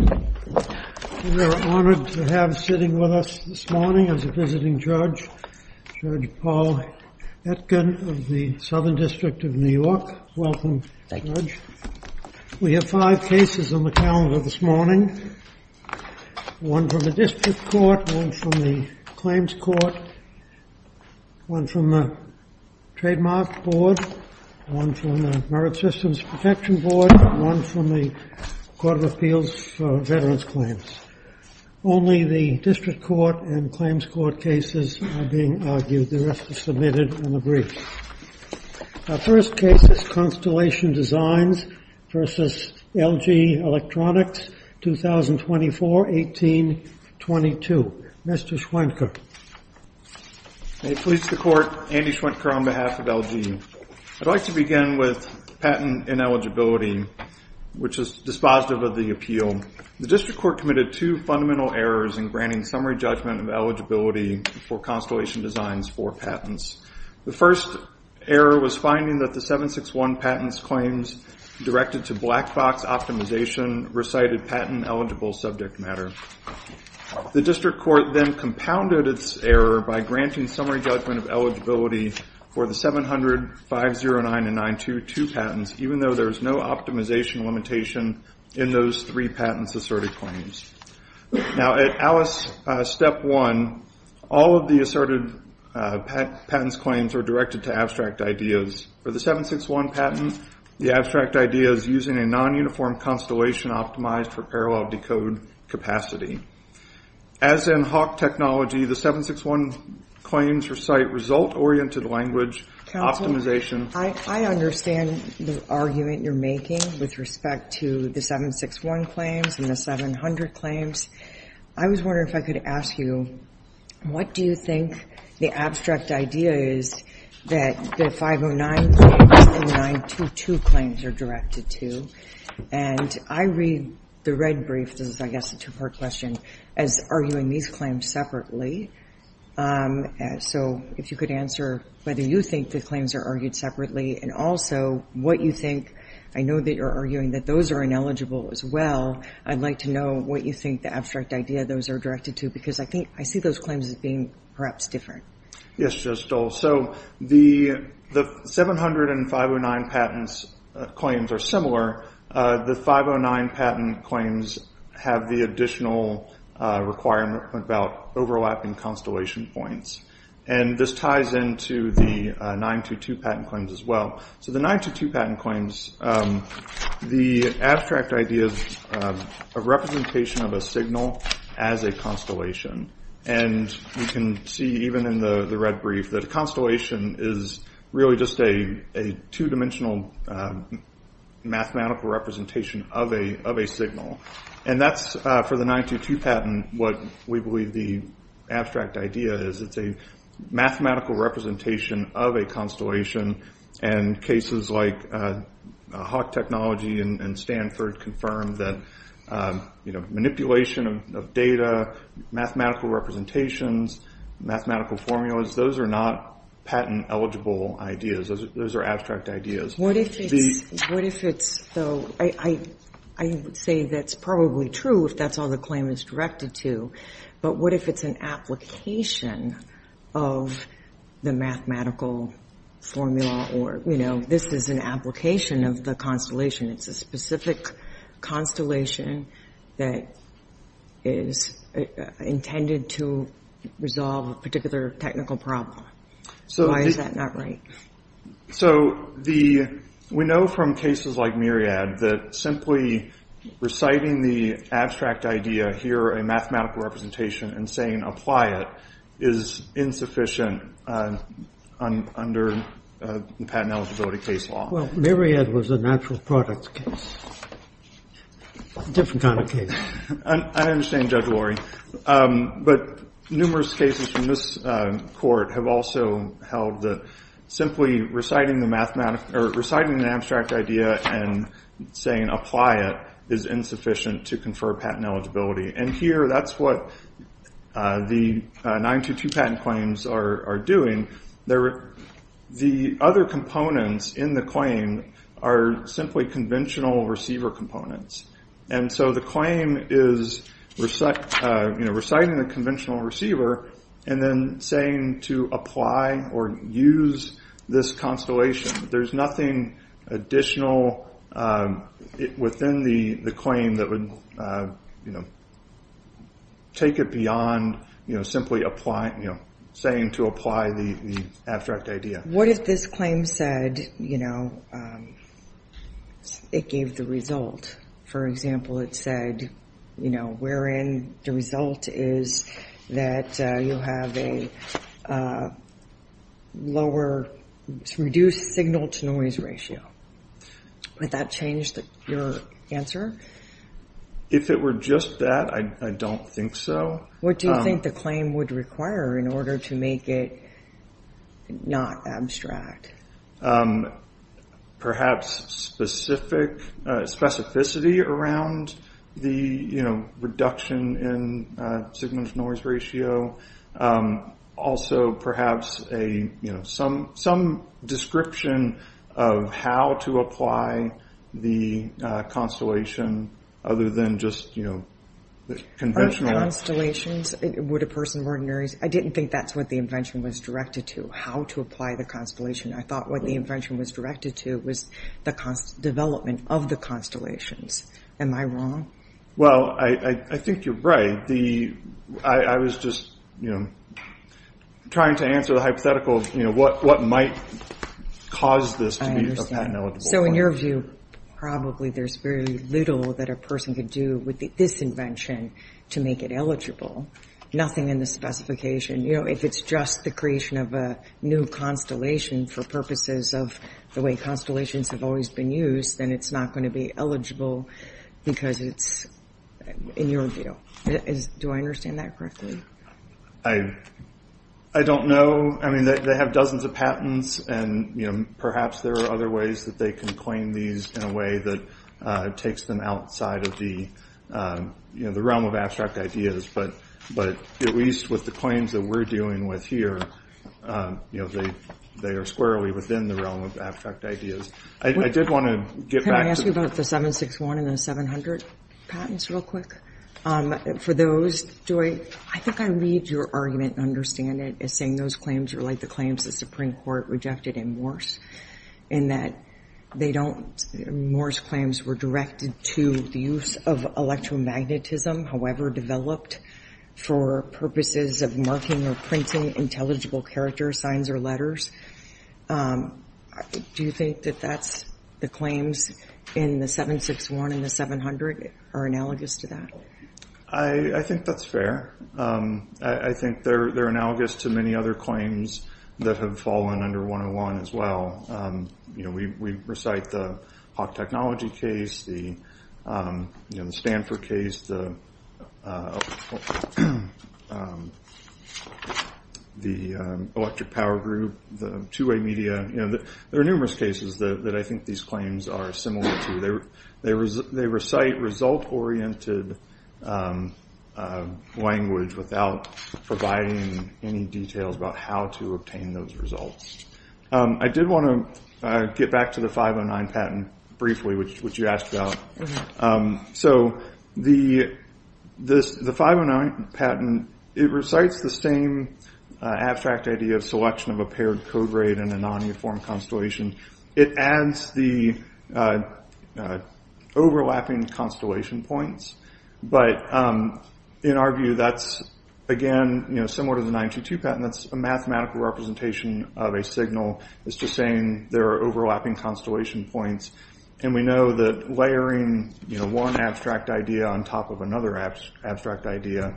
We are honored to have sitting with us this morning, as a visiting judge, Judge Paul Etkin of the Southern District of New York. Welcome, Judge. We have five cases on the calendar this morning. One from the District Court, one from the Claims Court, one from the Trademark Board, one from the Merit Systems Protection Board, one from the Court of Appeals for Veterans Claims. Only the District Court and Claims Court cases are being argued. The rest are submitted in a brief. Our first case is Constellation Designs v. LG Electronics, 2024-18-22. Mr. Schwentker. May it please the Court, Andy Schwentker on behalf of LG. I'd like to begin with patent ineligibility, which is dispositive of the appeal. The District Court committed two fundamental errors in granting summary judgment of eligibility for Constellation Designs for patents. The first error was finding that the 761 patents claims directed to black box optimization recited patent-eligible subject matter. The District Court then compounded its error by granting summary judgment of eligibility for the 700, 509, and 922 patents, even though there's no optimization limitation in those three patents asserted claims. Now, at ALICE Step 1, all of the asserted patents claims are directed to abstract ideas. For the 761 patent, the abstract idea is using a non-uniform constellation optimized for parallel decode capacity. As in HAWC technology, the 761 claims recite result-oriented language optimization. Counsel, I understand the argument you're making with respect to the 761 claims and the 700 claims. I was wondering if I could ask you, what do you think the abstract idea is that the 509 and 922 claims are directed to? And I read the red brief, this is, I guess, a two-part question, as arguing these claims separately. So if you could answer whether you think the claims are argued separately and also what you think. I know that you're arguing that those are ineligible as well. I'd like to know what you think the abstract idea those are directed to, because I think I see those claims as being perhaps different. Yes, Judge Stoll. So the 700 and 509 patents claims are similar. The 509 patent claims have the additional requirement about overlapping constellation points. And this ties into the 922 patent claims as well. So the 922 patent claims, the abstract idea is a representation of a signal as a constellation. And you can see even in the red brief that a constellation is really just a two-dimensional mathematical representation of a signal. And that's, for the 922 patent, what we believe the abstract idea is. It's a mathematical representation of a constellation. And cases like Hawk Technology and Stanford confirm that manipulation of data, mathematical representations, mathematical formulas, those are not patent-eligible ideas. Those are abstract ideas. What if it's, though, I would say that's probably true if that's all the claim is directed to. But what if it's an application of the mathematical formula or, you know, this is an application of the constellation. It's a specific constellation that is intended to resolve a particular technical problem. Why is that not right? So we know from cases like Myriad that simply reciting the abstract idea here, a mathematical representation, and saying apply it is insufficient under patent eligibility case law. Well, Myriad was a natural products case, a different kind of case. I understand, Judge Lori. But numerous cases from this court have also held that simply reciting the abstract idea and saying apply it is insufficient to confer patent eligibility. And here that's what the 922 patent claims are doing. The other components in the claim are simply conventional receiver components. And so the claim is, you know, reciting the conventional receiver and then saying to apply or use this constellation. There's nothing additional within the claim that would, you know, take it beyond, you know, simply applying, you know, saying to apply the abstract idea. What if this claim said, you know, it gave the result? For example, it said, you know, wherein the result is that you have a lower reduced signal to noise ratio. Would that change your answer? If it were just that, I don't think so. What do you think the claim would require in order to make it not abstract? Perhaps specificity around the, you know, reduction in signal to noise ratio. Also perhaps a, you know, some description of how to apply the constellation other than just, you know, conventional. I didn't think that's what the invention was directed to, how to apply the constellation. I thought what the invention was directed to was the development of the constellations. Am I wrong? Well, I think you're right. I was just, you know, trying to answer the hypothetical, you know, what might cause this to be a patent eligible. So in your view, probably there's very little that a person could do with this invention to make it eligible. Nothing in the specification. You know, if it's just the creation of a new constellation for purposes of the way constellations have always been used, then it's not going to be eligible because it's, in your view. Do I understand that correctly? I don't know. I mean, they have dozens of patents, and, you know, perhaps there are other ways that they can claim these in a way that takes them outside of the, you know, the realm of abstract ideas. But at least with the claims that we're dealing with here, you know, they are squarely within the realm of abstract ideas. I did want to get back to- Can I ask you about the 761 and the 700 patents real quick? For those, Joy, I think I read your argument and understand it as saying those claims are like the claims the Supreme Court rejected in Morse, in that they don't- Morse claims were directed to the use of electromagnetism, however developed for purposes of marking or printing intelligible character signs or letters. Do you think that that's- the claims in the 761 and the 700 are analogous to that? I think that's fair. I think they're analogous to many other claims that have fallen under 101 as well. You know, we recite the Hawk Technology case, the Stanford case, the Electric Power Group, the two-way media, you know, there are numerous cases that I think these claims are similar to. They recite result-oriented language without providing any details about how to obtain those results. I did want to get back to the 509 patent briefly, which you asked about. So the 509 patent, it recites the same abstract idea of selection of a paired code rate and a non-uniform constellation. It adds the overlapping constellation points, but in our view that's, again, you know, similar to the 922 patent. That's a mathematical representation of a signal. It's just saying there are overlapping constellation points, and we know that layering, you know, one abstract idea on top of another abstract idea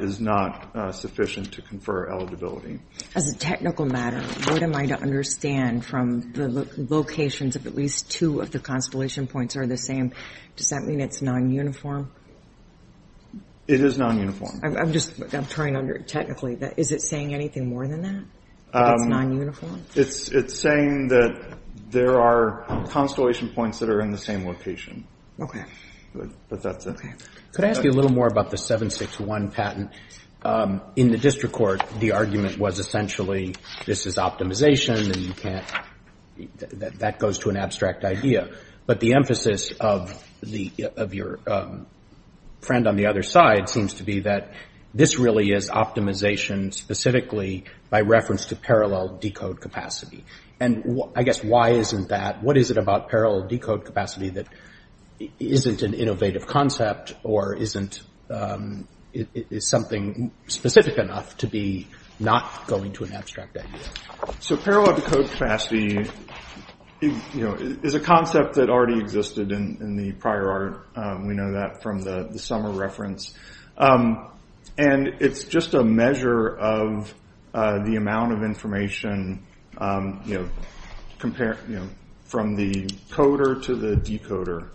is not sufficient to confer eligibility. As a technical matter, what am I to understand from the locations of at least two of the constellation points are the same? Does that mean it's non-uniform? It is non-uniform. I'm just trying to understand technically. Is it saying anything more than that, that it's non-uniform? It's saying that there are constellation points that are in the same location. Okay. But that's it. Okay. Could I ask you a little more about the 761 patent? In the district court, the argument was essentially this is optimization and you can't ‑‑ that goes to an abstract idea. But the emphasis of your friend on the other side seems to be that this really is optimization specifically by reference to parallel decode capacity. And I guess why isn't that ‑‑ what is it about parallel decode capacity that isn't an innovative concept or isn't something specific enough to be not going to an abstract idea? So parallel decode capacity is a concept that already existed in the prior art. We know that from the summer reference. And it's just a measure of the amount of information from the coder to the decoder.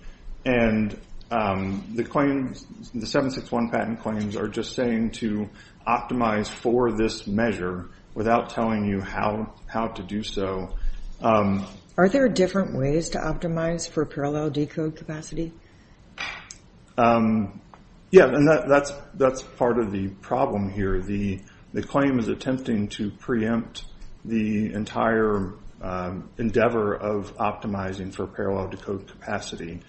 And the claims, the 761 patent claims are just saying to optimize for this measure without telling you how to do so. Are there different ways to optimize for parallel decode capacity? Yeah. And that's part of the problem here. The claim is attempting to preempt the entire endeavor of optimizing for parallel decode capacity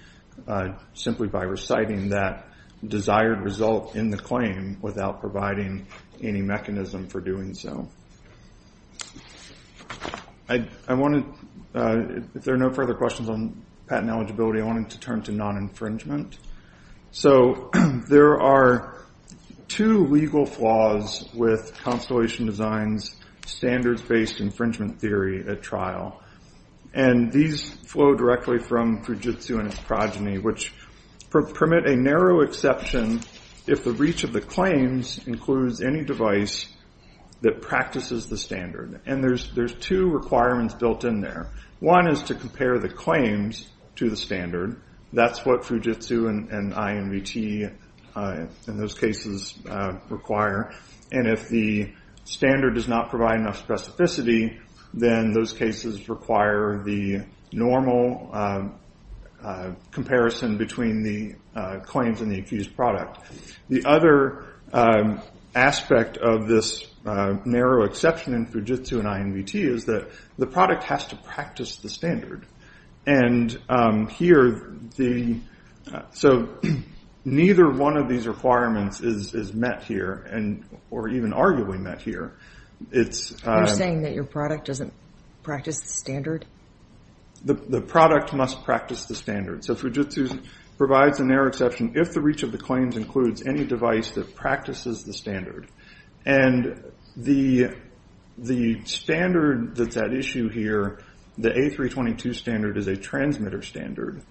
simply by reciting that desired result in the claim without providing any mechanism for doing so. I wanted ‑‑ if there are no further questions on patent eligibility, I wanted to turn to non‑infringement. So there are two legal flaws with Constellation Design's standards-based infringement theory at trial. And these flow directly from Fujitsu and its progeny, which permit a narrow exception if the reach of the claims includes any device that practices the standard. And there's two requirements built in there. One is to compare the claims to the standard. That's what Fujitsu and INVT in those cases require. And if the standard does not provide enough specificity, then those cases require the normal comparison between the claims and the accused product. The other aspect of this narrow exception in Fujitsu and INVT is that the product has to practice the standard. And here the ‑‑ so neither one of these requirements is met here, or even arguably met here. It's ‑‑ You're saying that your product doesn't practice the standard? The product must practice the standard. So Fujitsu provides a narrow exception if the reach of the claims includes any device that practices the standard. And the standard that's at issue here, the A322 standard is a transmitter standard.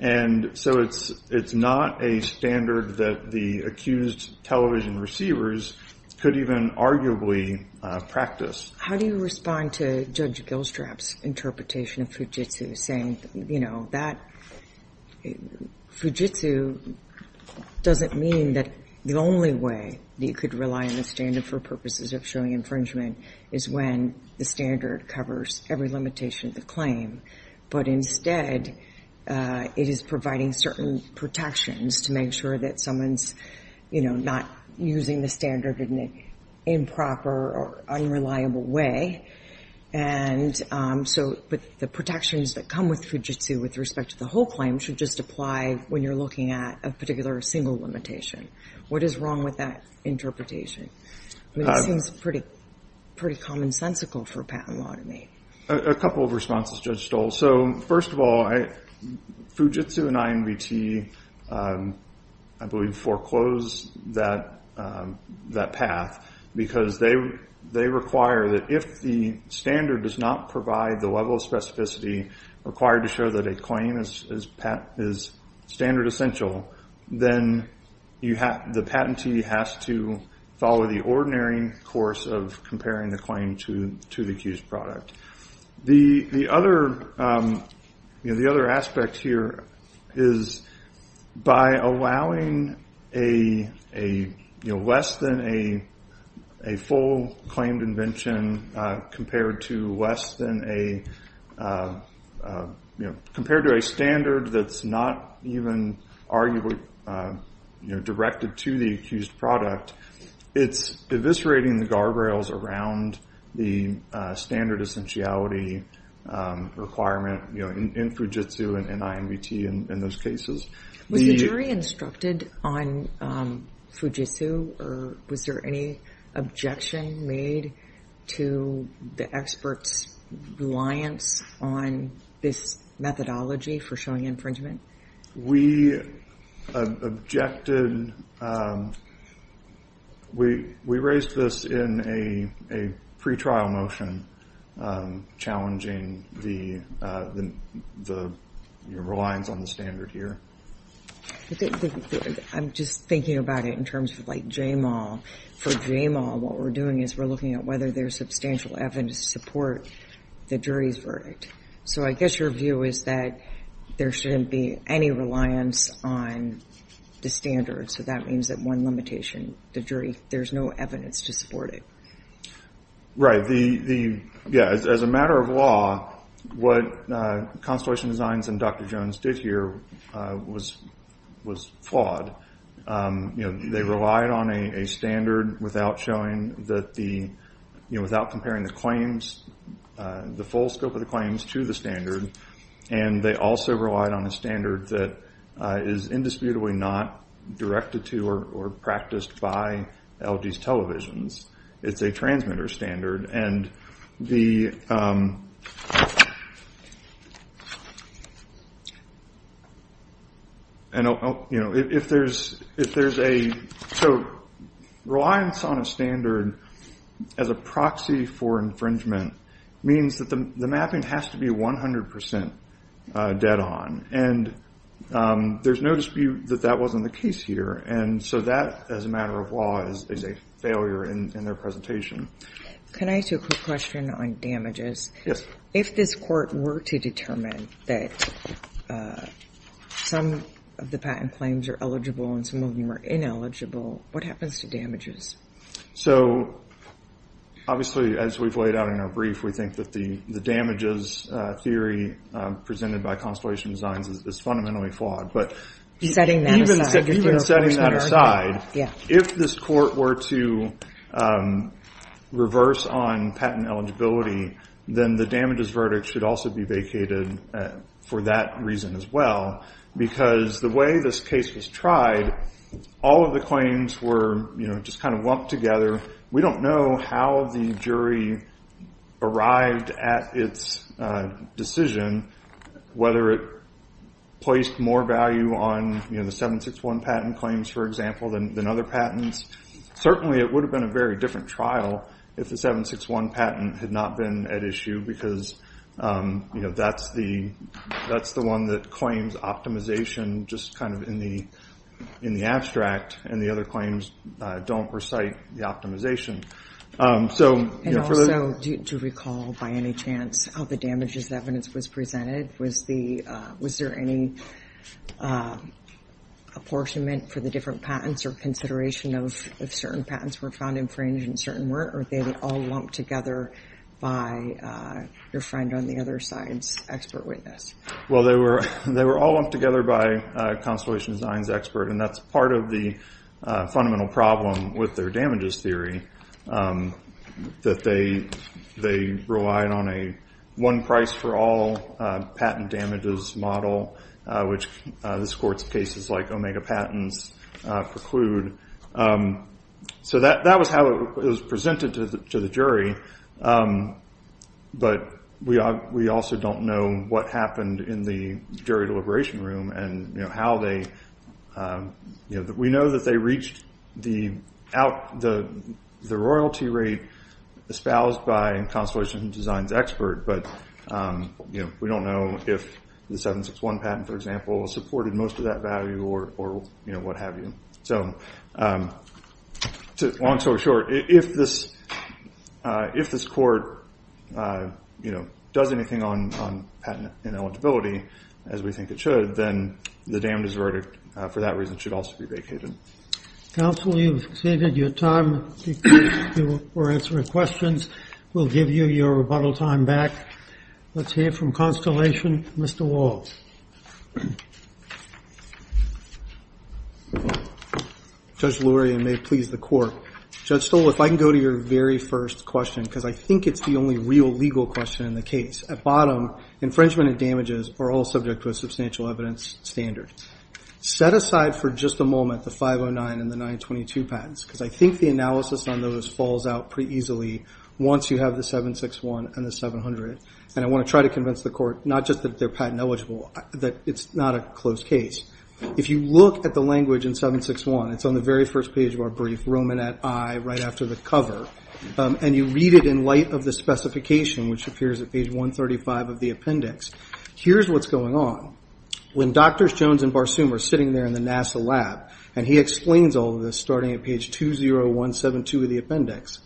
And so it's not a standard that the accused television receivers could even arguably practice. How do you respond to Judge Gilstrap's interpretation of Fujitsu saying, you know, Fujitsu doesn't mean that the only way that you could rely on the standard for purposes of showing infringement is when the standard covers every limitation of the claim. But instead, it is providing certain protections to make sure that someone's, you know, not using the standard in an improper or unreliable way. And so the protections that come with Fujitsu with respect to the whole claim should just apply when you're looking at a particular single limitation. What is wrong with that interpretation? It seems pretty commonsensical for patent law to me. A couple of responses, Judge Stoll. So first of all, Fujitsu and INVT, I believe, foreclose that path because they require that if the standard does not provide the level of specificity required to show that a claim is standard essential, then the patentee has to follow the ordinary course of comparing the claim to the accused product. The other aspect here is by allowing less than a full claimed invention compared to less than a, you know, compared to a standard that's not even arguably directed to the accused product, it's eviscerating the guardrails around the standard essentiality requirement, you know, in Fujitsu and INVT in those cases. Was the jury instructed on Fujitsu, or was there any objection made to the experts' reliance on this methodology for showing infringement? We objected. We raised this in a pretrial motion challenging the reliance on the standard here. I'm just thinking about it in terms of like JMAW. For JMAW, what we're doing is we're looking at whether there's substantial evidence to support the jury's verdict. So I guess your view is that there shouldn't be any reliance on the standard, so that means that one limitation, the jury, there's no evidence to support it. Right. The, yeah, as a matter of law, what Constellation Designs and Dr. Jones did here was flawed. You know, they relied on a standard without showing that the, you know, without comparing the claims, the full scope of the claims to the standard, and they also relied on a standard that is indisputably not directed to or practiced by LG's televisions. It's a transmitter standard, and the, you know, if there's a, so reliance on a standard as a proxy for infringement means that the mapping has to be 100% dead on, and there's no dispute that that wasn't the case here. And so that, as a matter of law, is a failure in their presentation. Can I ask you a quick question on damages? Yes. If this court were to determine that some of the patent claims are eligible and some of them are ineligible, what happens to damages? So, obviously, as we've laid out in our brief, we think that the damages theory presented by Constellation Designs is fundamentally flawed. But even setting that aside, if this court were to reverse on patent eligibility, then the damages verdict should also be vacated for that reason as well, because the way this case was tried, all of the claims were, you know, just kind of lumped together. We don't know how the jury arrived at its decision, whether it placed more value on, you know, the 761 patent claims, for example, than other patents. Certainly it would have been a very different trial if the 761 patent had not been at issue because, you know, that's the one that claims optimization just kind of in the abstract and the other claims don't recite the optimization. And also, do you recall by any chance how the damages evidence was presented? Was there any apportionment for the different patents or consideration of certain patents were found infringed in certain work, or were they all lumped together by your friend on the other side's expert witness? Well, they were all lumped together by Constellation Designs' expert, and that's part of the fundamental problem with their damages theory, that they relied on a one price for all patent damages model, which this court's cases like Omega Patents preclude. So that was how it was presented to the jury, but we also don't know what happened in the jury deliberation room and how they, you know, we know that they reached the royalty rate espoused by Constellation Designs' expert, but we don't know if the 761 patent, for example, supported most of that value or what have you. So long story short, if this court, you know, does anything on patent ineligibility, as we think it should, then the damages verdict for that reason should also be vacated. Counsel, you've exceeded your time for answering questions. We'll give you your rebuttal time back. Let's hear from Constellation. Mr. Wall. Judge Lurie, and may it please the court. Judge Stoll, if I can go to your very first question, because I think it's the only real legal question in the case. At bottom, infringement and damages are all subject to a substantial evidence standard. Set aside for just a moment the 509 and the 922 patents, because I think the analysis on those falls out pretty easily once you have the 761 and the 700, and I want to try to convince the court not just that they're patent eligible, that it's not a closed case. If you look at the language in 761, it's on the very first page of our brief, Roman at I, right after the cover, and you read it in light of the specification, which appears at page 135 of the appendix, here's what's going on. When Drs. Jones and Barsoom are sitting there in the NASA lab, and he explains all of this starting at page 20172 of the appendix,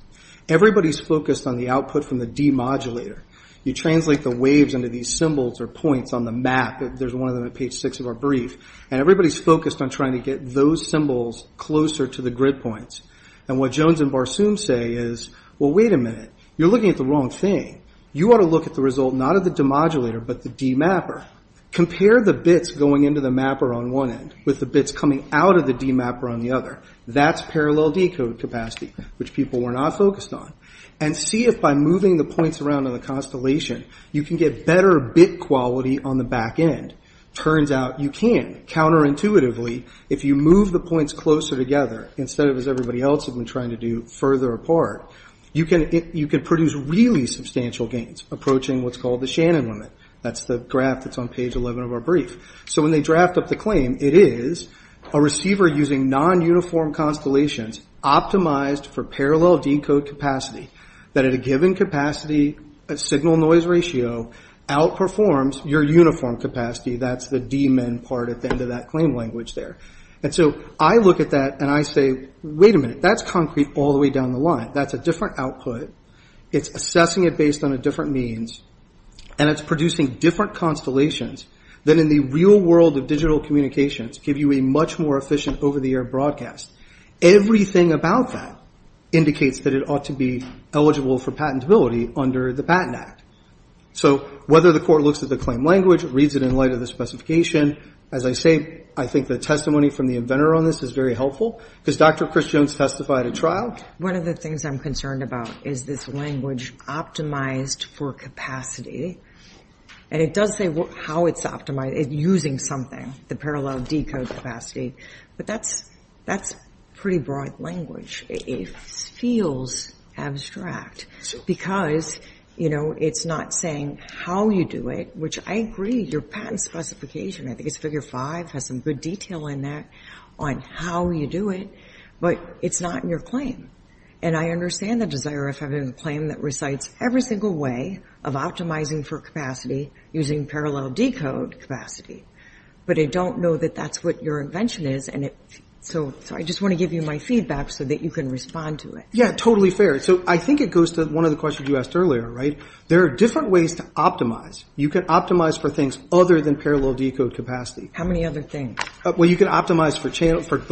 everybody's focused on the output from the demodulator. You translate the waves into these symbols or points on the map. There's one of them at page 6 of our brief, and everybody's focused on trying to get those symbols closer to the grid points. And what Jones and Barsoom say is, well, wait a minute. You're looking at the wrong thing. You ought to look at the result not of the demodulator, but the demapper. Compare the bits going into the mapper on one end with the bits coming out of the demapper on the other. That's parallel decode capacity, which people were not focused on. And see if by moving the points around on the constellation, you can get better bit quality on the back end. Turns out you can. Counterintuitively, if you move the points closer together instead of, as everybody else had been trying to do, further apart, you can produce really substantial gains, approaching what's called the Shannon limit. That's the graph that's on page 11 of our brief. So when they draft up the claim, it is a receiver using non-uniform constellations, optimized for parallel decode capacity, that at a given capacity signal-noise ratio outperforms your uniform capacity. That's the D-min part at the end of that claim language there. And so I look at that, and I say, wait a minute. That's concrete all the way down the line. That's a different output. It's assessing it based on a different means, and it's producing different constellations that in the real world of digital communications give you a much more efficient over-the-air broadcast. Everything about that indicates that it ought to be eligible for patentability under the Patent Act. So whether the court looks at the claim language, reads it in light of the specification, as I say, I think the testimony from the inventor on this is very helpful, because Dr. Chris Jones testified at trial. But one of the things I'm concerned about is this language, optimized for capacity. And it does say how it's optimized, using something, the parallel decode capacity. But that's pretty broad language. It feels abstract, because, you know, it's not saying how you do it, which I agree. Your patent specification, I think it's Figure 5, has some good detail in there on how you do it. But it's not in your claim. And I understand the desire of having a claim that recites every single way of optimizing for capacity using parallel decode capacity. But I don't know that that's what your invention is. So I just want to give you my feedback so that you can respond to it. Yeah, totally fair. So I think it goes to one of the questions you asked earlier, right? There are different ways to optimize. You can optimize for things other than parallel decode capacity. How many other things? Well, you can optimize for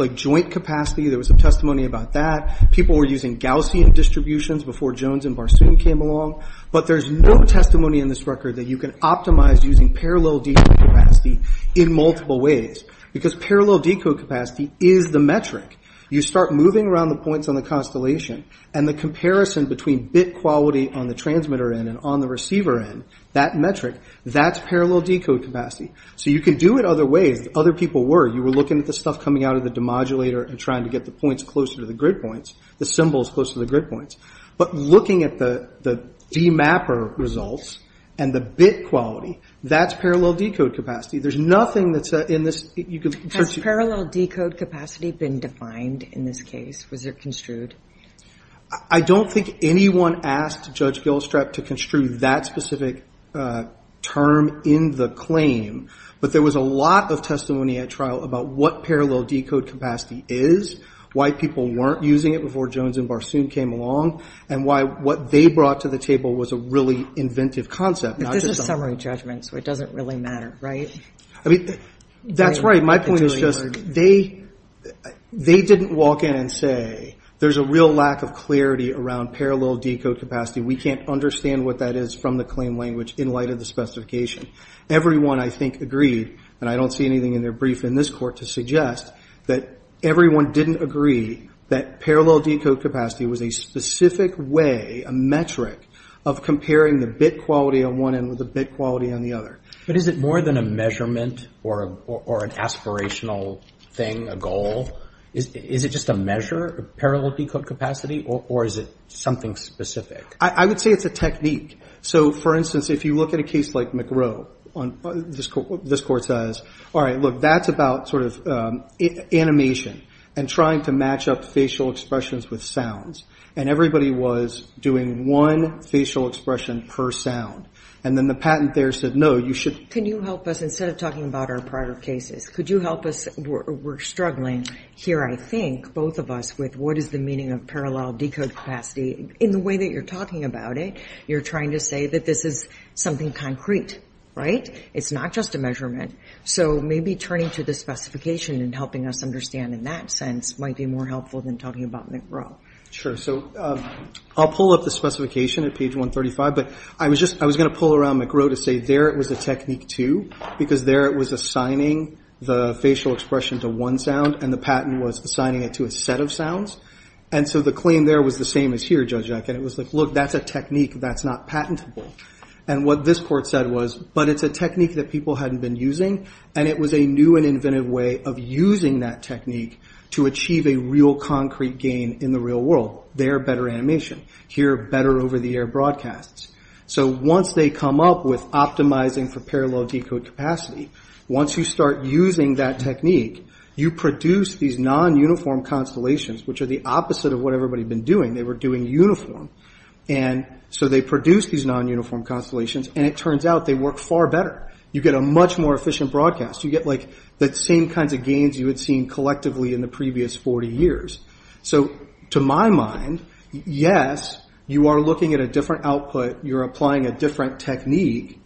joint capacity. There was some testimony about that. People were using Gaussian distributions before Jones and Barsoom came along. But there's no testimony in this record that you can optimize using parallel decode capacity in multiple ways, because parallel decode capacity is the metric. You start moving around the points on the constellation, and the comparison between bit quality on the transmitter end and on the receiver end, that metric, that's parallel decode capacity. So you can do it other ways. Other people were. You were looking at the stuff coming out of the demodulator and trying to get the points closer to the grid points, the symbols closer to the grid points. But looking at the demapper results and the bit quality, that's parallel decode capacity. There's nothing that's in this. Has parallel decode capacity been defined in this case? Was it construed? I don't think anyone asked Judge Gilstrap to construe that specific term in the claim. But there was a lot of testimony at trial about what parallel decode capacity is, why people weren't using it before Jones and Barsoom came along, and why what they brought to the table was a really inventive concept. But this is summary judgment, so it doesn't really matter, right? I mean, that's right. My point is just they didn't walk in and say, there's a real lack of clarity around parallel decode capacity. We can't understand what that is from the claim language in light of the specification. Everyone, I think, agreed, and I don't see anything in their brief in this court to suggest, that everyone didn't agree that parallel decode capacity was a specific way, a metric of comparing the bit quality on one end with the bit quality on the other. But is it more than a measurement or an aspirational thing, a goal? Is it just a measure of parallel decode capacity, or is it something specific? I would say it's a technique. So, for instance, if you look at a case like McGrow, this court says, all right, look, that's about sort of animation, and trying to match up facial expressions with sounds. And everybody was doing one facial expression per sound. And then the patent there said, no, you should. Can you help us, instead of talking about our prior cases, could you help us? We're struggling here, I think, both of us, with what is the meaning of parallel decode capacity in the way that you're talking about it. You're trying to say that this is something concrete, right? It's not just a measurement. So maybe turning to the specification and helping us understand in that sense might be more helpful than talking about McGrow. Sure. So I'll pull up the specification at page 135, but I was going to pull around McGrow to say there it was a technique, too, because there it was assigning the facial expression to one sound, and the patent was assigning it to a set of sounds. And so the claim there was the same as here, Judge Eck. And it was like, look, that's a technique that's not patentable. And what this court said was, but it's a technique that people hadn't been using, and it was a new and inventive way of using that technique to achieve a real concrete gain in the real world. There, better animation. Here, better over-the-air broadcasts. So once they come up with optimizing for parallel decode capacity, once you start using that technique, you produce these non-uniform constellations, which are the opposite of what everybody had been doing. They were doing uniform. And so they produced these non-uniform constellations, and it turns out they work far better. You get a much more efficient broadcast. You get like the same kinds of gains you had seen collectively in the previous 40 years. So to my mind, yes, you are looking at a different output, you're applying a different technique,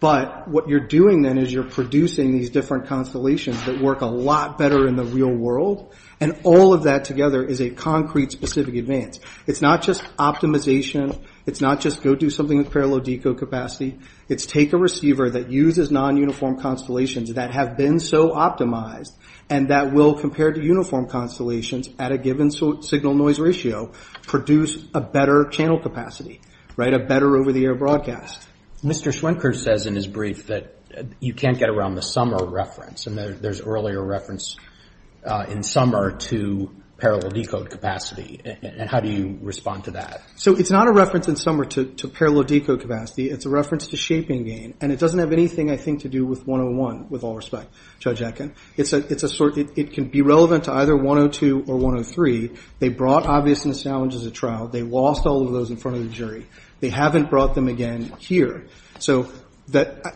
but what you're doing then is you're producing these different constellations that work a lot better in the real world, and all of that together is a concrete, specific advance. It's not just optimization. It's not just go do something with parallel decode capacity. It's take a receiver that uses non-uniform constellations that have been so optimized and that will, compared to uniform constellations at a given signal-noise ratio, produce a better channel capacity, right, a better over-the-air broadcast. Mr. Schwenker says in his brief that you can't get around the summer reference, and there's earlier reference in summer to parallel decode capacity. How do you respond to that? So it's not a reference in summer to parallel decode capacity. It's a reference to shaping gain, and it doesn't have anything I think to do with 101 with all respect, Judge Atkin. It can be relevant to either 102 or 103. They brought obviousness challenges at trial. They lost all of those in front of the jury. They haven't brought them again here. So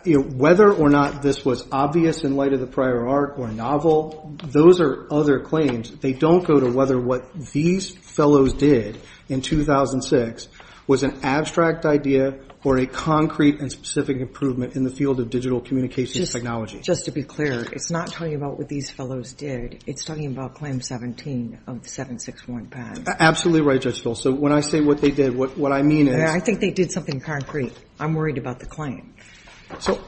whether or not this was obvious in light of the prior arc or novel, those are other claims. They don't go to whether what these fellows did in 2006 was an abstract idea or a concrete and specific improvement in the field of digital communications technology. Just to be clear, it's not talking about what these fellows did. It's talking about Claim 17 of 761-PAD. Absolutely right, Judge Phil. So when I say what they did, what I mean is they did something concrete. I'm worried about the claim. So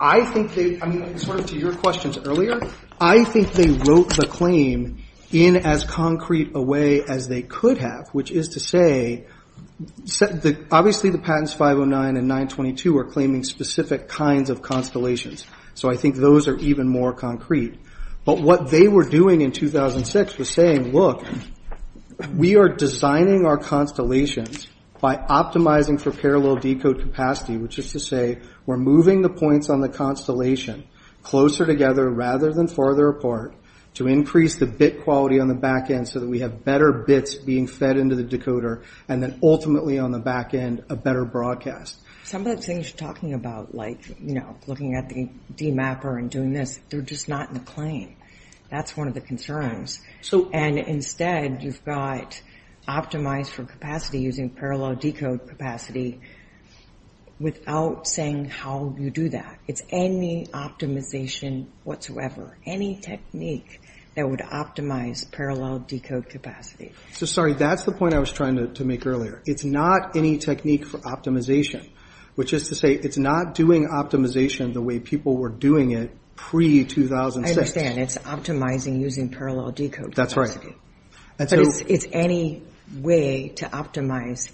I think they, sort of to your questions earlier, I think they wrote the claim in as concrete a way as they could have, which is to say obviously the patents 509 and 922 are claiming specific kinds of constellations. So I think those are even more concrete. But what they were doing in 2006 was saying, look, we are designing our constellations by optimizing for parallel decode capacity, which is to say we're moving the points on the constellation closer together rather than farther apart to increase the bit quality on the back end so that we have better bits being fed into the decoder and then ultimately on the back end a better broadcast. Some of the things you're talking about, like looking at the demapper and doing this, they're just not in the claim. That's one of the concerns. And instead you've got optimize for capacity using parallel decode capacity without saying how you do that. It's any optimization whatsoever, any technique that would optimize parallel decode capacity. So, sorry, that's the point I was trying to make earlier. It's not any technique for optimization, which is to say it's not doing optimization the way people were doing it pre-2006. I understand. It's optimizing using parallel decode capacity. That's right. But it's any way to optimize.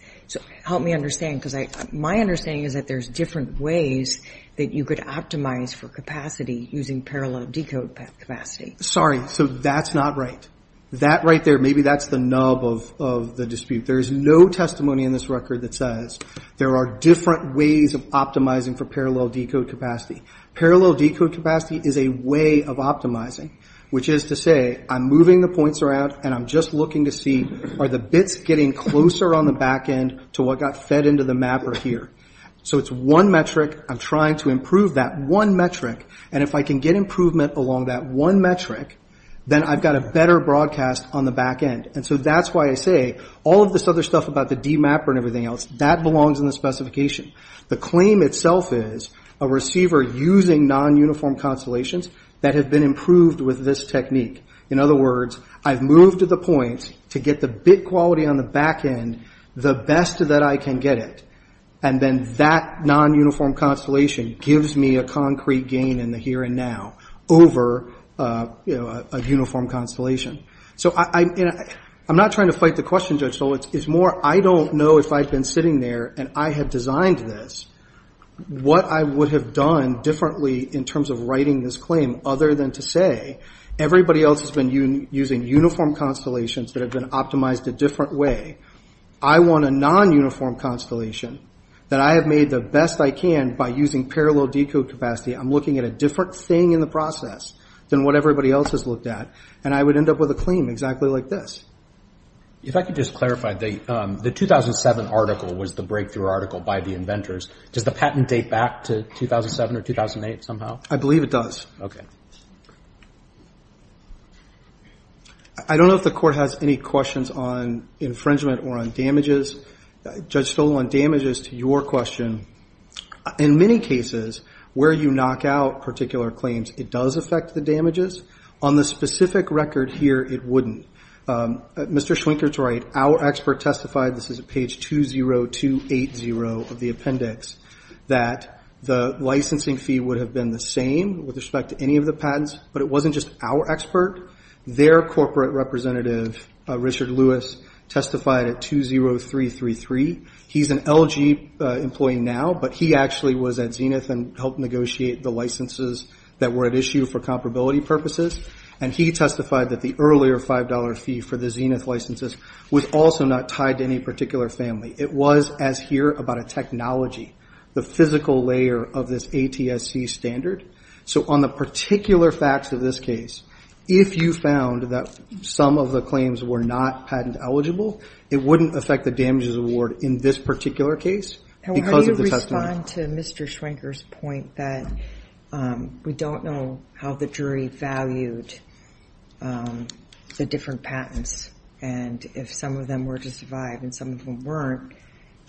Help me understand because my understanding is that there's different ways that you could optimize for capacity using parallel decode capacity. Sorry, so that's not right. That right there, maybe that's the nub of the dispute. There is no testimony in this record that says there are different ways of optimizing for parallel decode capacity. Parallel decode capacity is a way of optimizing, which is to say I'm moving the points around, and I'm just looking to see are the bits getting closer on the back end to what got fed into the mapper here. So it's one metric. I'm trying to improve that one metric. And if I can get improvement along that one metric, then I've got a better broadcast on the back end. And so that's why I say all of this other stuff about the demapper and everything else, that belongs in the specification. The claim itself is a receiver using non-uniform constellations that have been improved with this technique. In other words, I've moved to the point to get the bit quality on the back end the best that I can get it, and then that non-uniform constellation gives me a concrete gain in the here and now over a uniform constellation. So I'm not trying to fight the question, Judge Stoll. I don't know if I'd been sitting there and I had designed this, what I would have done differently in terms of writing this claim other than to say, everybody else has been using uniform constellations that have been optimized a different way. I want a non-uniform constellation that I have made the best I can by using parallel decode capacity. I'm looking at a different thing in the process than what everybody else has looked at, and I would end up with a claim exactly like this. If I could just clarify, the 2007 article was the breakthrough article by the inventors. Does the patent date back to 2007 or 2008 somehow? I believe it does. I don't know if the Court has any questions on infringement or on damages. Judge Stoll, on damages, to your question, in many cases where you knock out particular claims, it does affect the damages. On the specific record here, it wouldn't. Mr. Schwinker's right. Our expert testified, this is at page 20280 of the appendix, that the licensing fee would have been the same with respect to any of the patents, but it wasn't just our expert. Their corporate representative, Richard Lewis, testified at 20333. He's an LG employee now, but he actually was at Zenith and helped negotiate the licenses that were at issue for comparability purposes, and he testified that the earlier $5 fee for the Zenith licenses was also not tied to any particular family. It was, as here, about a technology, the physical layer of this ATSC standard. So on the particular facts of this case, if you found that some of the claims were not patent eligible, it wouldn't affect the damages award in this particular case because of the testimony. On to Mr. Schwinker's point that we don't know how the jury valued the different patents, and if some of them were to survive and some of them weren't,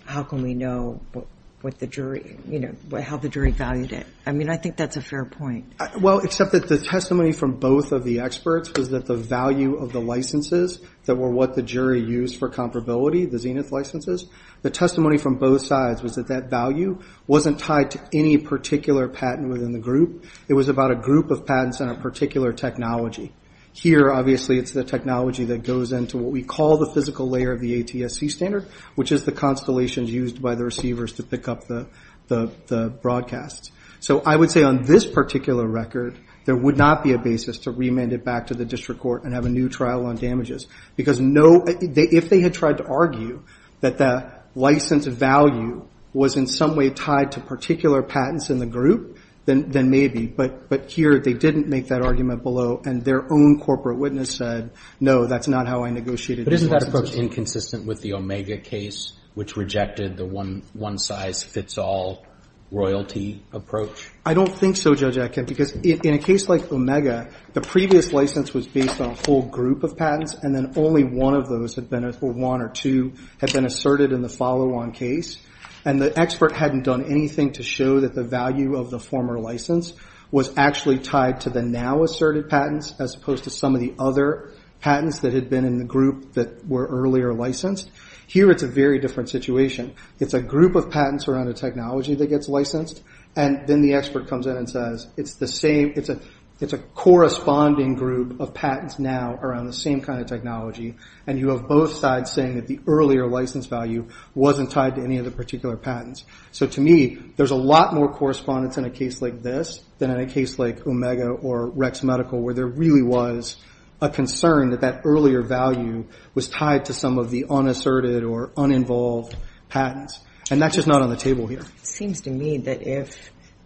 how can we know how the jury valued it? I mean, I think that's a fair point. Well, except that the testimony from both of the experts was that the value of the licenses that were what the jury used for comparability, the Zenith licenses, the testimony from both sides was that that value wasn't tied to any particular patent within the group. It was about a group of patents and a particular technology. Here, obviously, it's the technology that goes into what we call the physical layer of the ATSC standard, which is the constellations used by the receivers to pick up the broadcasts. So I would say on this particular record, there would not be a basis to remand it back to the district court and have a new trial on damages because if they had tried to argue that the license value was in some way tied to particular patents in the group, then maybe, but here they didn't make that argument below, and their own corporate witness said, no, that's not how I negotiated the licenses. But isn't that approach inconsistent with the Omega case, which rejected the one-size-fits-all royalty approach? I don't think so, Judge Atkin, because in a case like Omega, the previous license was based on a whole group of patents, and then only one or two had been asserted in the follow-on case, and the expert hadn't done anything to show that the value of the former license was actually tied to the now-asserted patents as opposed to some of the other patents that had been in the group that were earlier licensed. Here, it's a very different situation. It's a group of patents around a technology that gets licensed, and then the expert comes in and says it's a corresponding group of patents now around the same kind of technology, and you have both sides saying that the earlier license value wasn't tied to any of the particular patents. So to me, there's a lot more correspondence in a case like this than in a case like Omega or Rex Medical, where there really was a concern that that earlier value was tied to some of the unasserted or uninvolved patents, and that's just not on the table here. It seems to me that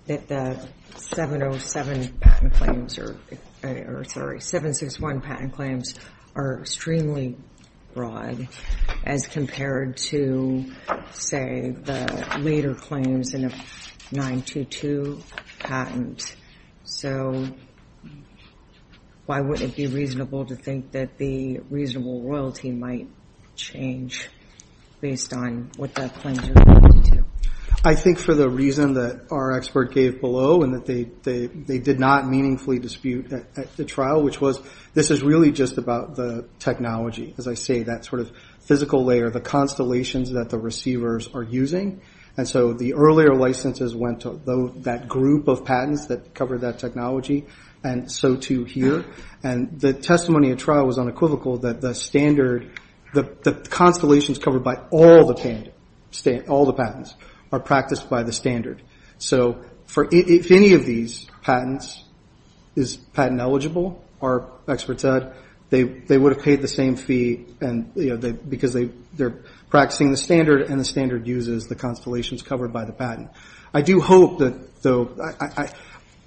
the 707 patent claims or, sorry, 761 patent claims are extremely broad as compared to, say, the later claims in a 922 patent. So why would it be reasonable to think that the reasonable royalty might change based on what that claim is related to? I think for the reason that our expert gave below and that they did not meaningfully dispute at the trial, which was this is really just about the technology. As I say, that sort of physical layer, the constellations that the receivers are using, and so the earlier licenses went to that group of patents that covered that technology, and so too here. And the testimony at trial was unequivocal that the standard, the constellations covered by all the patents, are practiced by the standard. So if any of these patents is patent eligible, our expert said, they would have paid the same fee because they're practicing the standard and the standard uses the constellations covered by the patent. I do hope, though,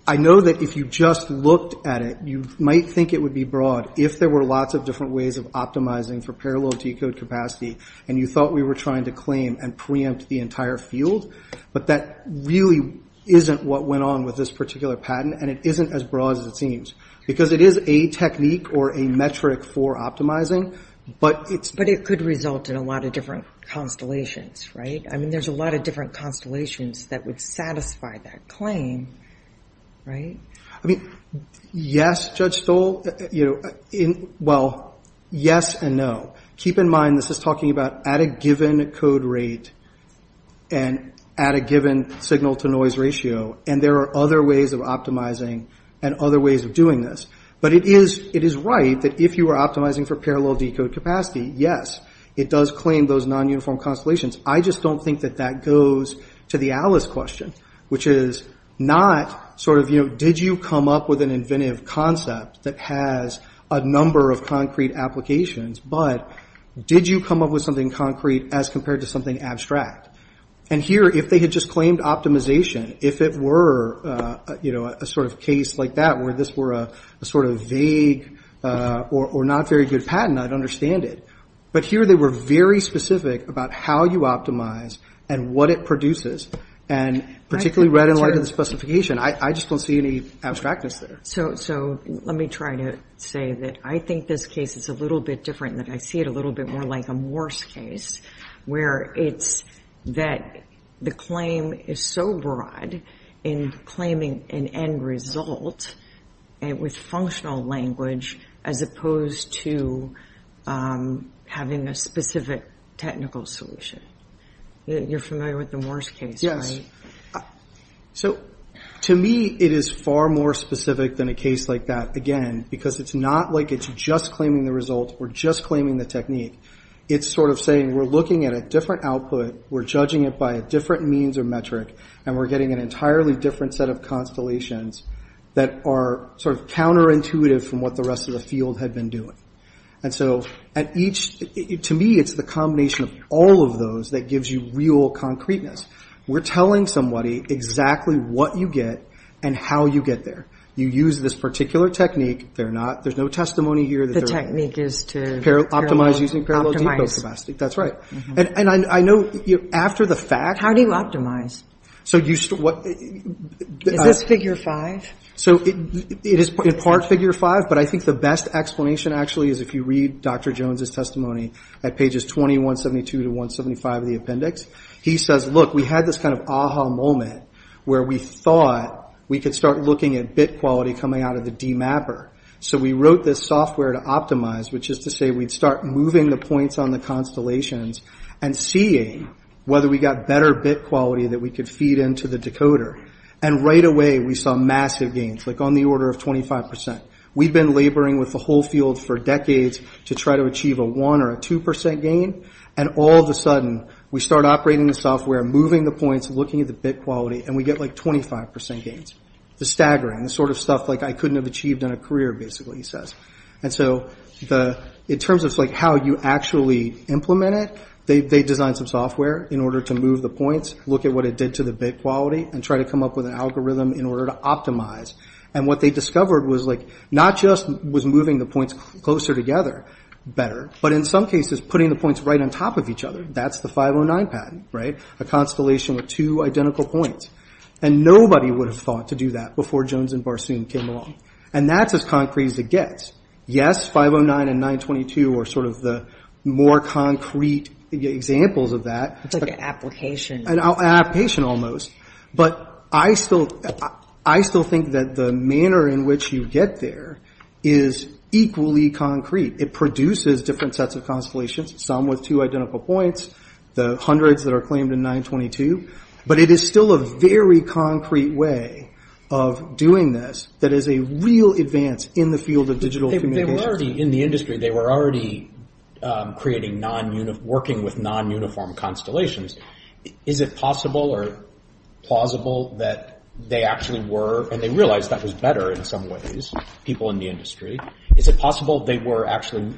I know that if you just looked at it, you might think it would be broad if there were lots of different ways of optimizing for parallel decode capacity and you thought we were trying to claim and preempt the entire field, but that really isn't what went on with this particular patent, and it isn't as broad as it seems. Because it is a technique or a metric for optimizing, but it's... But it could result in a lot of different constellations, right? I mean, there's a lot of different constellations that would satisfy that claim, right? I mean, yes, Judge Stoll. Well, yes and no. Keep in mind this is talking about at a given code rate and at a given signal-to-noise ratio, and there are other ways of optimizing and other ways of doing this. But it is right that if you are optimizing for parallel decode capacity, yes, it does claim those non-uniform constellations. I just don't think that that goes to the Alice question, which is not sort of, you know, did you come up with an inventive concept that has a number of concrete applications, but did you come up with something concrete as compared to something abstract? And here, if they had just claimed optimization, if it were a sort of case like that where this were a sort of vague or not very good patent, I'd understand it. But here they were very specific about how you optimize and what it produces, and particularly right in light of the specification. I just don't see any abstractness there. So let me try to say that I think this case is a little bit different, that I see it a little bit more like a Morse case, where it's that the claim is so broad in claiming an end result with functional language as opposed to having a specific technical solution. You're familiar with the Morse case, right? So to me, it is far more specific than a case like that, again, because it's not like it's just claiming the result or just claiming the technique. It's sort of saying we're looking at a different output, we're judging it by a different means or metric, and we're getting an entirely different set of constellations that are sort of counterintuitive from what the rest of the field had been doing. And so to me, it's the combination of all of those that gives you real concreteness. We're telling somebody exactly what you get and how you get there. You use this particular technique. There's no testimony here that the technique is to optimize using parallel decobastic. That's right. And I know after the fact... How do you optimize? Is this Figure 5? It is in part Figure 5, but I think the best explanation actually is if you read Dr. Jones' testimony at pages 20, 172 to 175 of the appendix. He says, look, we had this kind of aha moment where we thought we could start looking at bit quality coming out of the demapper. So we wrote this software to optimize, which is to say we'd start moving the points on the constellations and seeing whether we got better bit quality that we could feed into the decoder. And right away, we saw massive gains, like on the order of 25%. We'd been laboring with the whole field for decades to try to achieve a 1% or a 2% gain, and all of a sudden, we start operating the software, moving the points, looking at the bit quality, and we get like 25% gains. It's staggering. It's sort of stuff like I couldn't have achieved in a career, basically, he says. And so in terms of how you actually implement it, they designed some software in order to move the points, look at what it did to the bit quality, and try to come up with an algorithm in order to optimize. And what they discovered was not just was moving the points closer together better, but in some cases, putting the points right on top of each other. That's the 509 patent, right, a constellation with two identical points. And nobody would have thought to do that before Jones and Barsoom came along. And that's as concrete as it gets. Yes, 509 and 922 are sort of the more concrete examples of that. It's like an application. An application almost. But I still think that the manner in which you get there is equally concrete. It produces different sets of constellations, some with two identical points, the hundreds that are claimed in 922. But it is still a very concrete way of doing this that is a real advance in the field of digital communications. They were already in the industry. They were already creating non-uniform, working with non-uniform constellations. Is it possible or plausible that they actually were, and they realized that was better in some ways, people in the industry, is it possible they were actually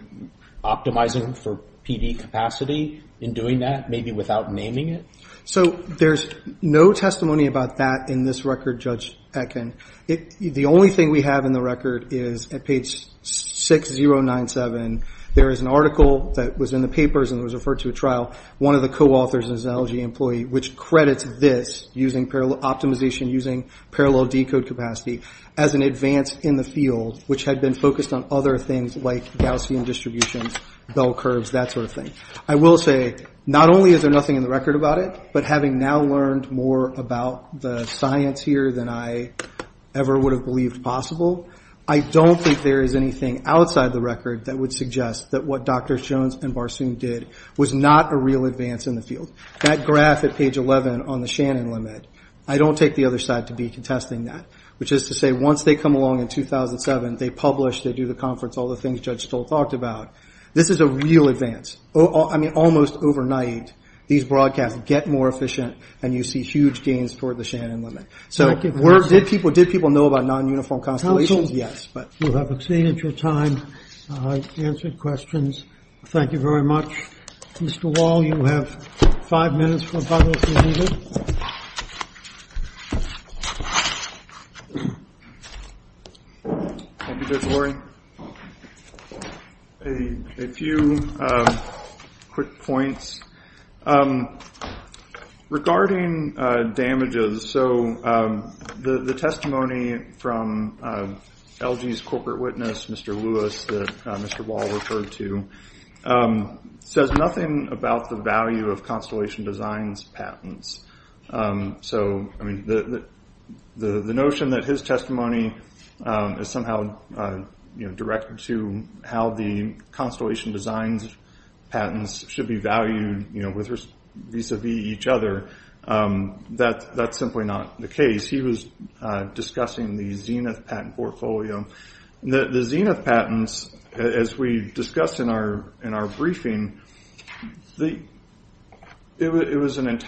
optimizing for PD capacity in doing that, maybe without naming it? So there's no testimony about that in this record, Judge Eken. The only thing we have in the record is at page 6097, there is an article that was in the papers and was referred to a trial, one of the co-authors is an LG employee, which credits this using parallel optimization, using parallel decode capacity, as an advance in the field, which had been focused on other things like Gaussian distributions, bell curves, that sort of thing. I will say not only is there nothing in the record about it, but having now learned more about the science here than I ever would have believed possible, I don't think there is anything outside the record that would suggest that what Drs. Jones and Barsoom did was not a real advance in the field. That graph at page 11 on the Shannon limit, I don't take the other side to be contesting that, which is to say once they come along in 2007, they publish, they do the conference, all the things Judge Stoll talked about, this is a real advance. I mean, almost overnight, these broadcasts get more efficient and you see huge gains toward the Shannon limit. So did people know about non-uniform constellations? Yes. We'll have exceeded your time. I've answered questions. Thank you very much. Mr. Wall, you have five minutes for public review. Thank you, Judge Lurie. A few quick points. Regarding damages, so the testimony from LG's corporate witness, Mr. Lewis, that Mr. Wall referred to says nothing about the value of Constellation Designs patents. So the notion that his testimony is somehow directed to how the Constellation Designs patents should be valued vis-a-vis each other, that's simply not the case. He was discussing the Zenith patent portfolio. The Zenith patents, as we discussed in our briefing, the Zenith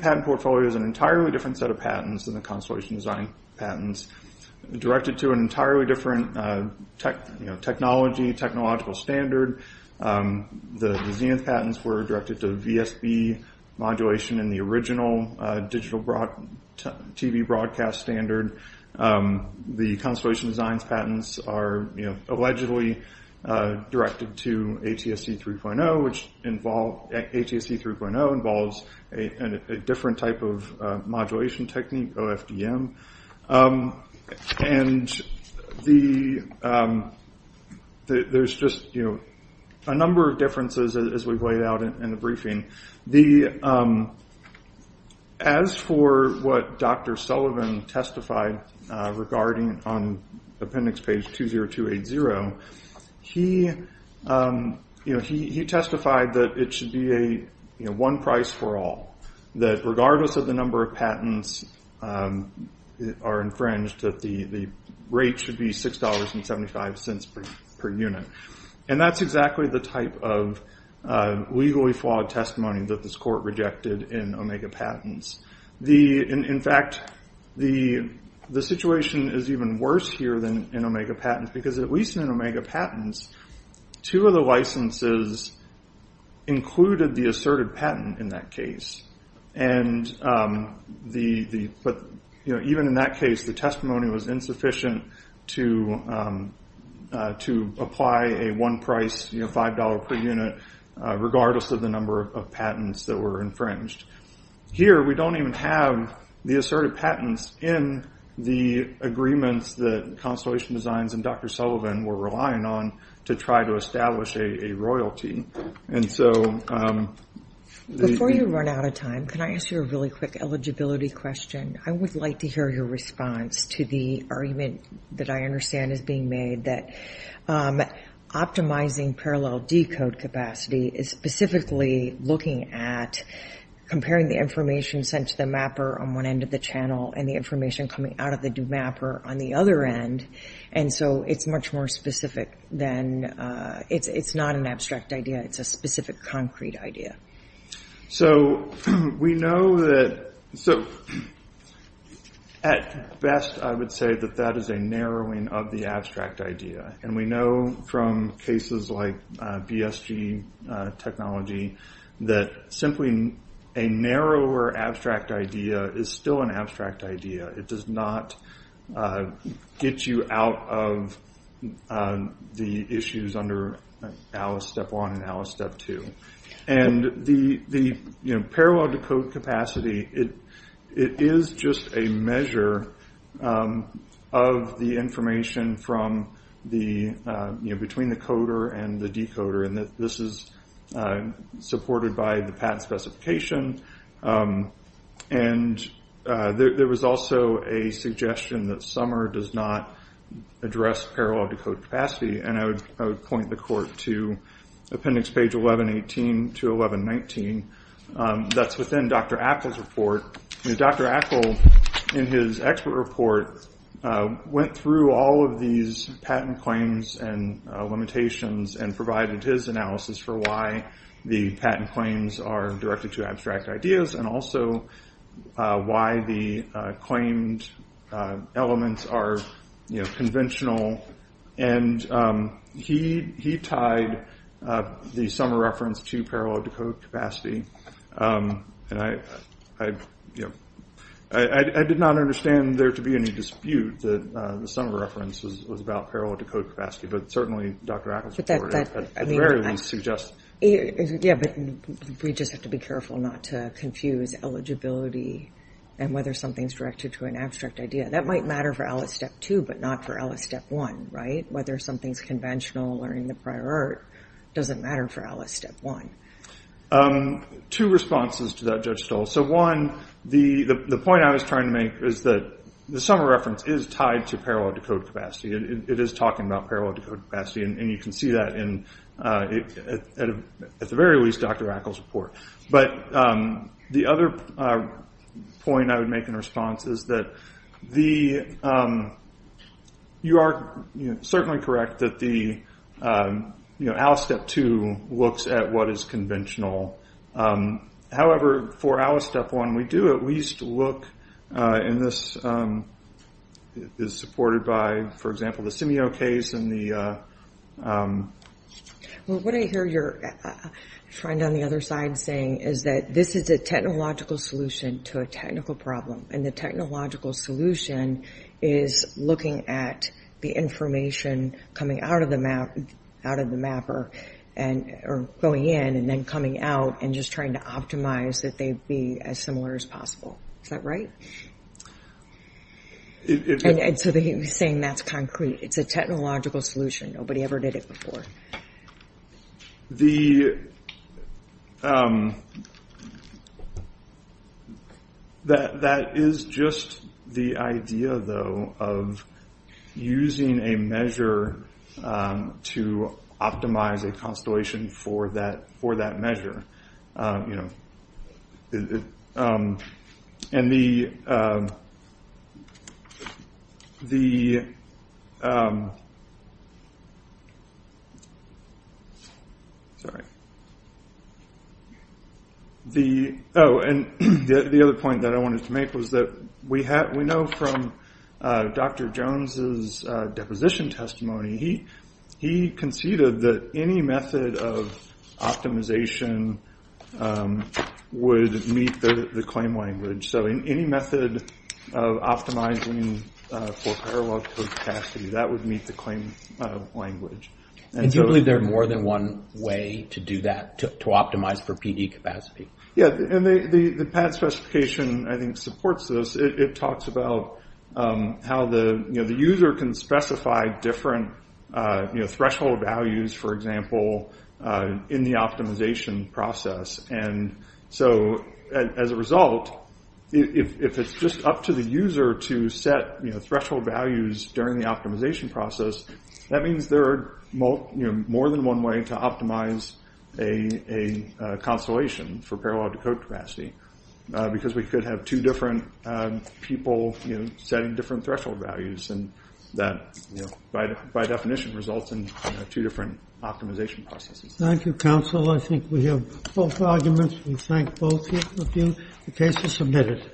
patent portfolio is an entirely different set of patents than the Constellation Design patents, directed to an entirely different technology, technological standard. The Zenith patents were directed to VSB modulation in the original digital TV broadcast standard. The Constellation Designs patents are allegedly directed to ATSC 3.0, which involves a different type of modulation technique, OFDM. And there's just a number of differences as we've laid out in the briefing. As for what Dr. Sullivan testified regarding on appendix page 20280, he testified that it should be a one price for all, that regardless of the number of patents are infringed, that the rate should be $6.75 per unit. And that's exactly the type of legally flawed testimony that this court rejected in Omega Patents. In fact, the situation is even worse here than in Omega Patents, because at least in Omega Patents, two of the licenses included the asserted patent in that case. Even in that case, the testimony was insufficient to apply a one price, $5 per unit, regardless of the number of patents that were infringed. Here, we don't even have the asserted patents in the agreements that Constellation Designs and Dr. Sullivan were relying on to try to establish a royalty. Before you run out of time, can I ask you a really quick eligibility question? I would like to hear your response to the argument that I understand is being made that optimizing parallel decode capacity is specifically looking at comparing the information sent to the mapper on one end of the channel and the information coming out of the do mapper on the other end. And so it's much more specific than, it's not an abstract idea. It's a specific concrete idea. So we know that, at best I would say that that is a narrowing of the abstract idea. And we know from cases like BSG technology that simply a narrower abstract idea is still an abstract idea. It does not get you out of the issues under Alice Step 1 and Alice Step 2. And the parallel decode capacity, it is just a measure of the information between the coder and the decoder. And this is supported by the patent specification. And there was also a suggestion that Summer does not address parallel decode capacity. And I would point the court to appendix page 1118 to 1119. That's within Dr. Appel's report. Dr. Appel, in his expert report, went through all of these patent claims and limitations and provided his analysis for why the patent claims are directed to abstract ideas and also why the claimed elements are conventional. And he tied the Summer reference to parallel decode capacity. And I did not understand there to be any dispute that the Summer reference was about parallel decode capacity. But certainly Dr. Appel's report at the very least suggests. Yeah, but we just have to be careful not to confuse eligibility and whether something's directed to an abstract idea. That might matter for Alice Step 2, but not for Alice Step 1, right? Whether something's conventional or in the prior art doesn't matter for Alice Step 1. Two responses to that, Judge Stoll. So one, the point I was trying to make is that the Summer reference is tied to parallel decode capacity. It is talking about parallel decode capacity. And you can see that in, at the very least, Dr. Appel's report. But the other point I would make in response is that you are certainly correct that Alice Step 2 looks at what is conventional. However, for Alice Step 1, we do at least look, and this is supported by, for example, the Simio case and the... Well, what I hear your friend on the other side saying is that this is a technological solution to a technical problem. And the technological solution is looking at the information coming out of the mapper or going in and then coming out and just trying to optimize that they be as similar as possible. Is that right? And so he was saying that's concrete. It's a technological solution. Nobody ever did it before. That is just the idea, though, of using a measure to optimize a constellation for that measure. And the other point that I wanted to make was that we know from Dr. Jones' deposition testimony, he conceded that any method of optimization would meet the claim language. So any method of optimizing for parallel code capacity, that would meet the claim language. And do you believe there are more than one way to do that, to optimize for PD capacity? Yeah, and the PAT specification, I think, supports this. It talks about how the user can specify different threshold values, for example, in the optimization process. And so as a result, if it's just up to the user to set threshold values during the optimization process, that means there are more than one way to optimize a constellation for parallel code capacity because we could have two different people setting different threshold values. And that, by definition, results in two different optimization processes. Thank you, counsel. I think we have both arguments. We thank both of you. The case is submitted.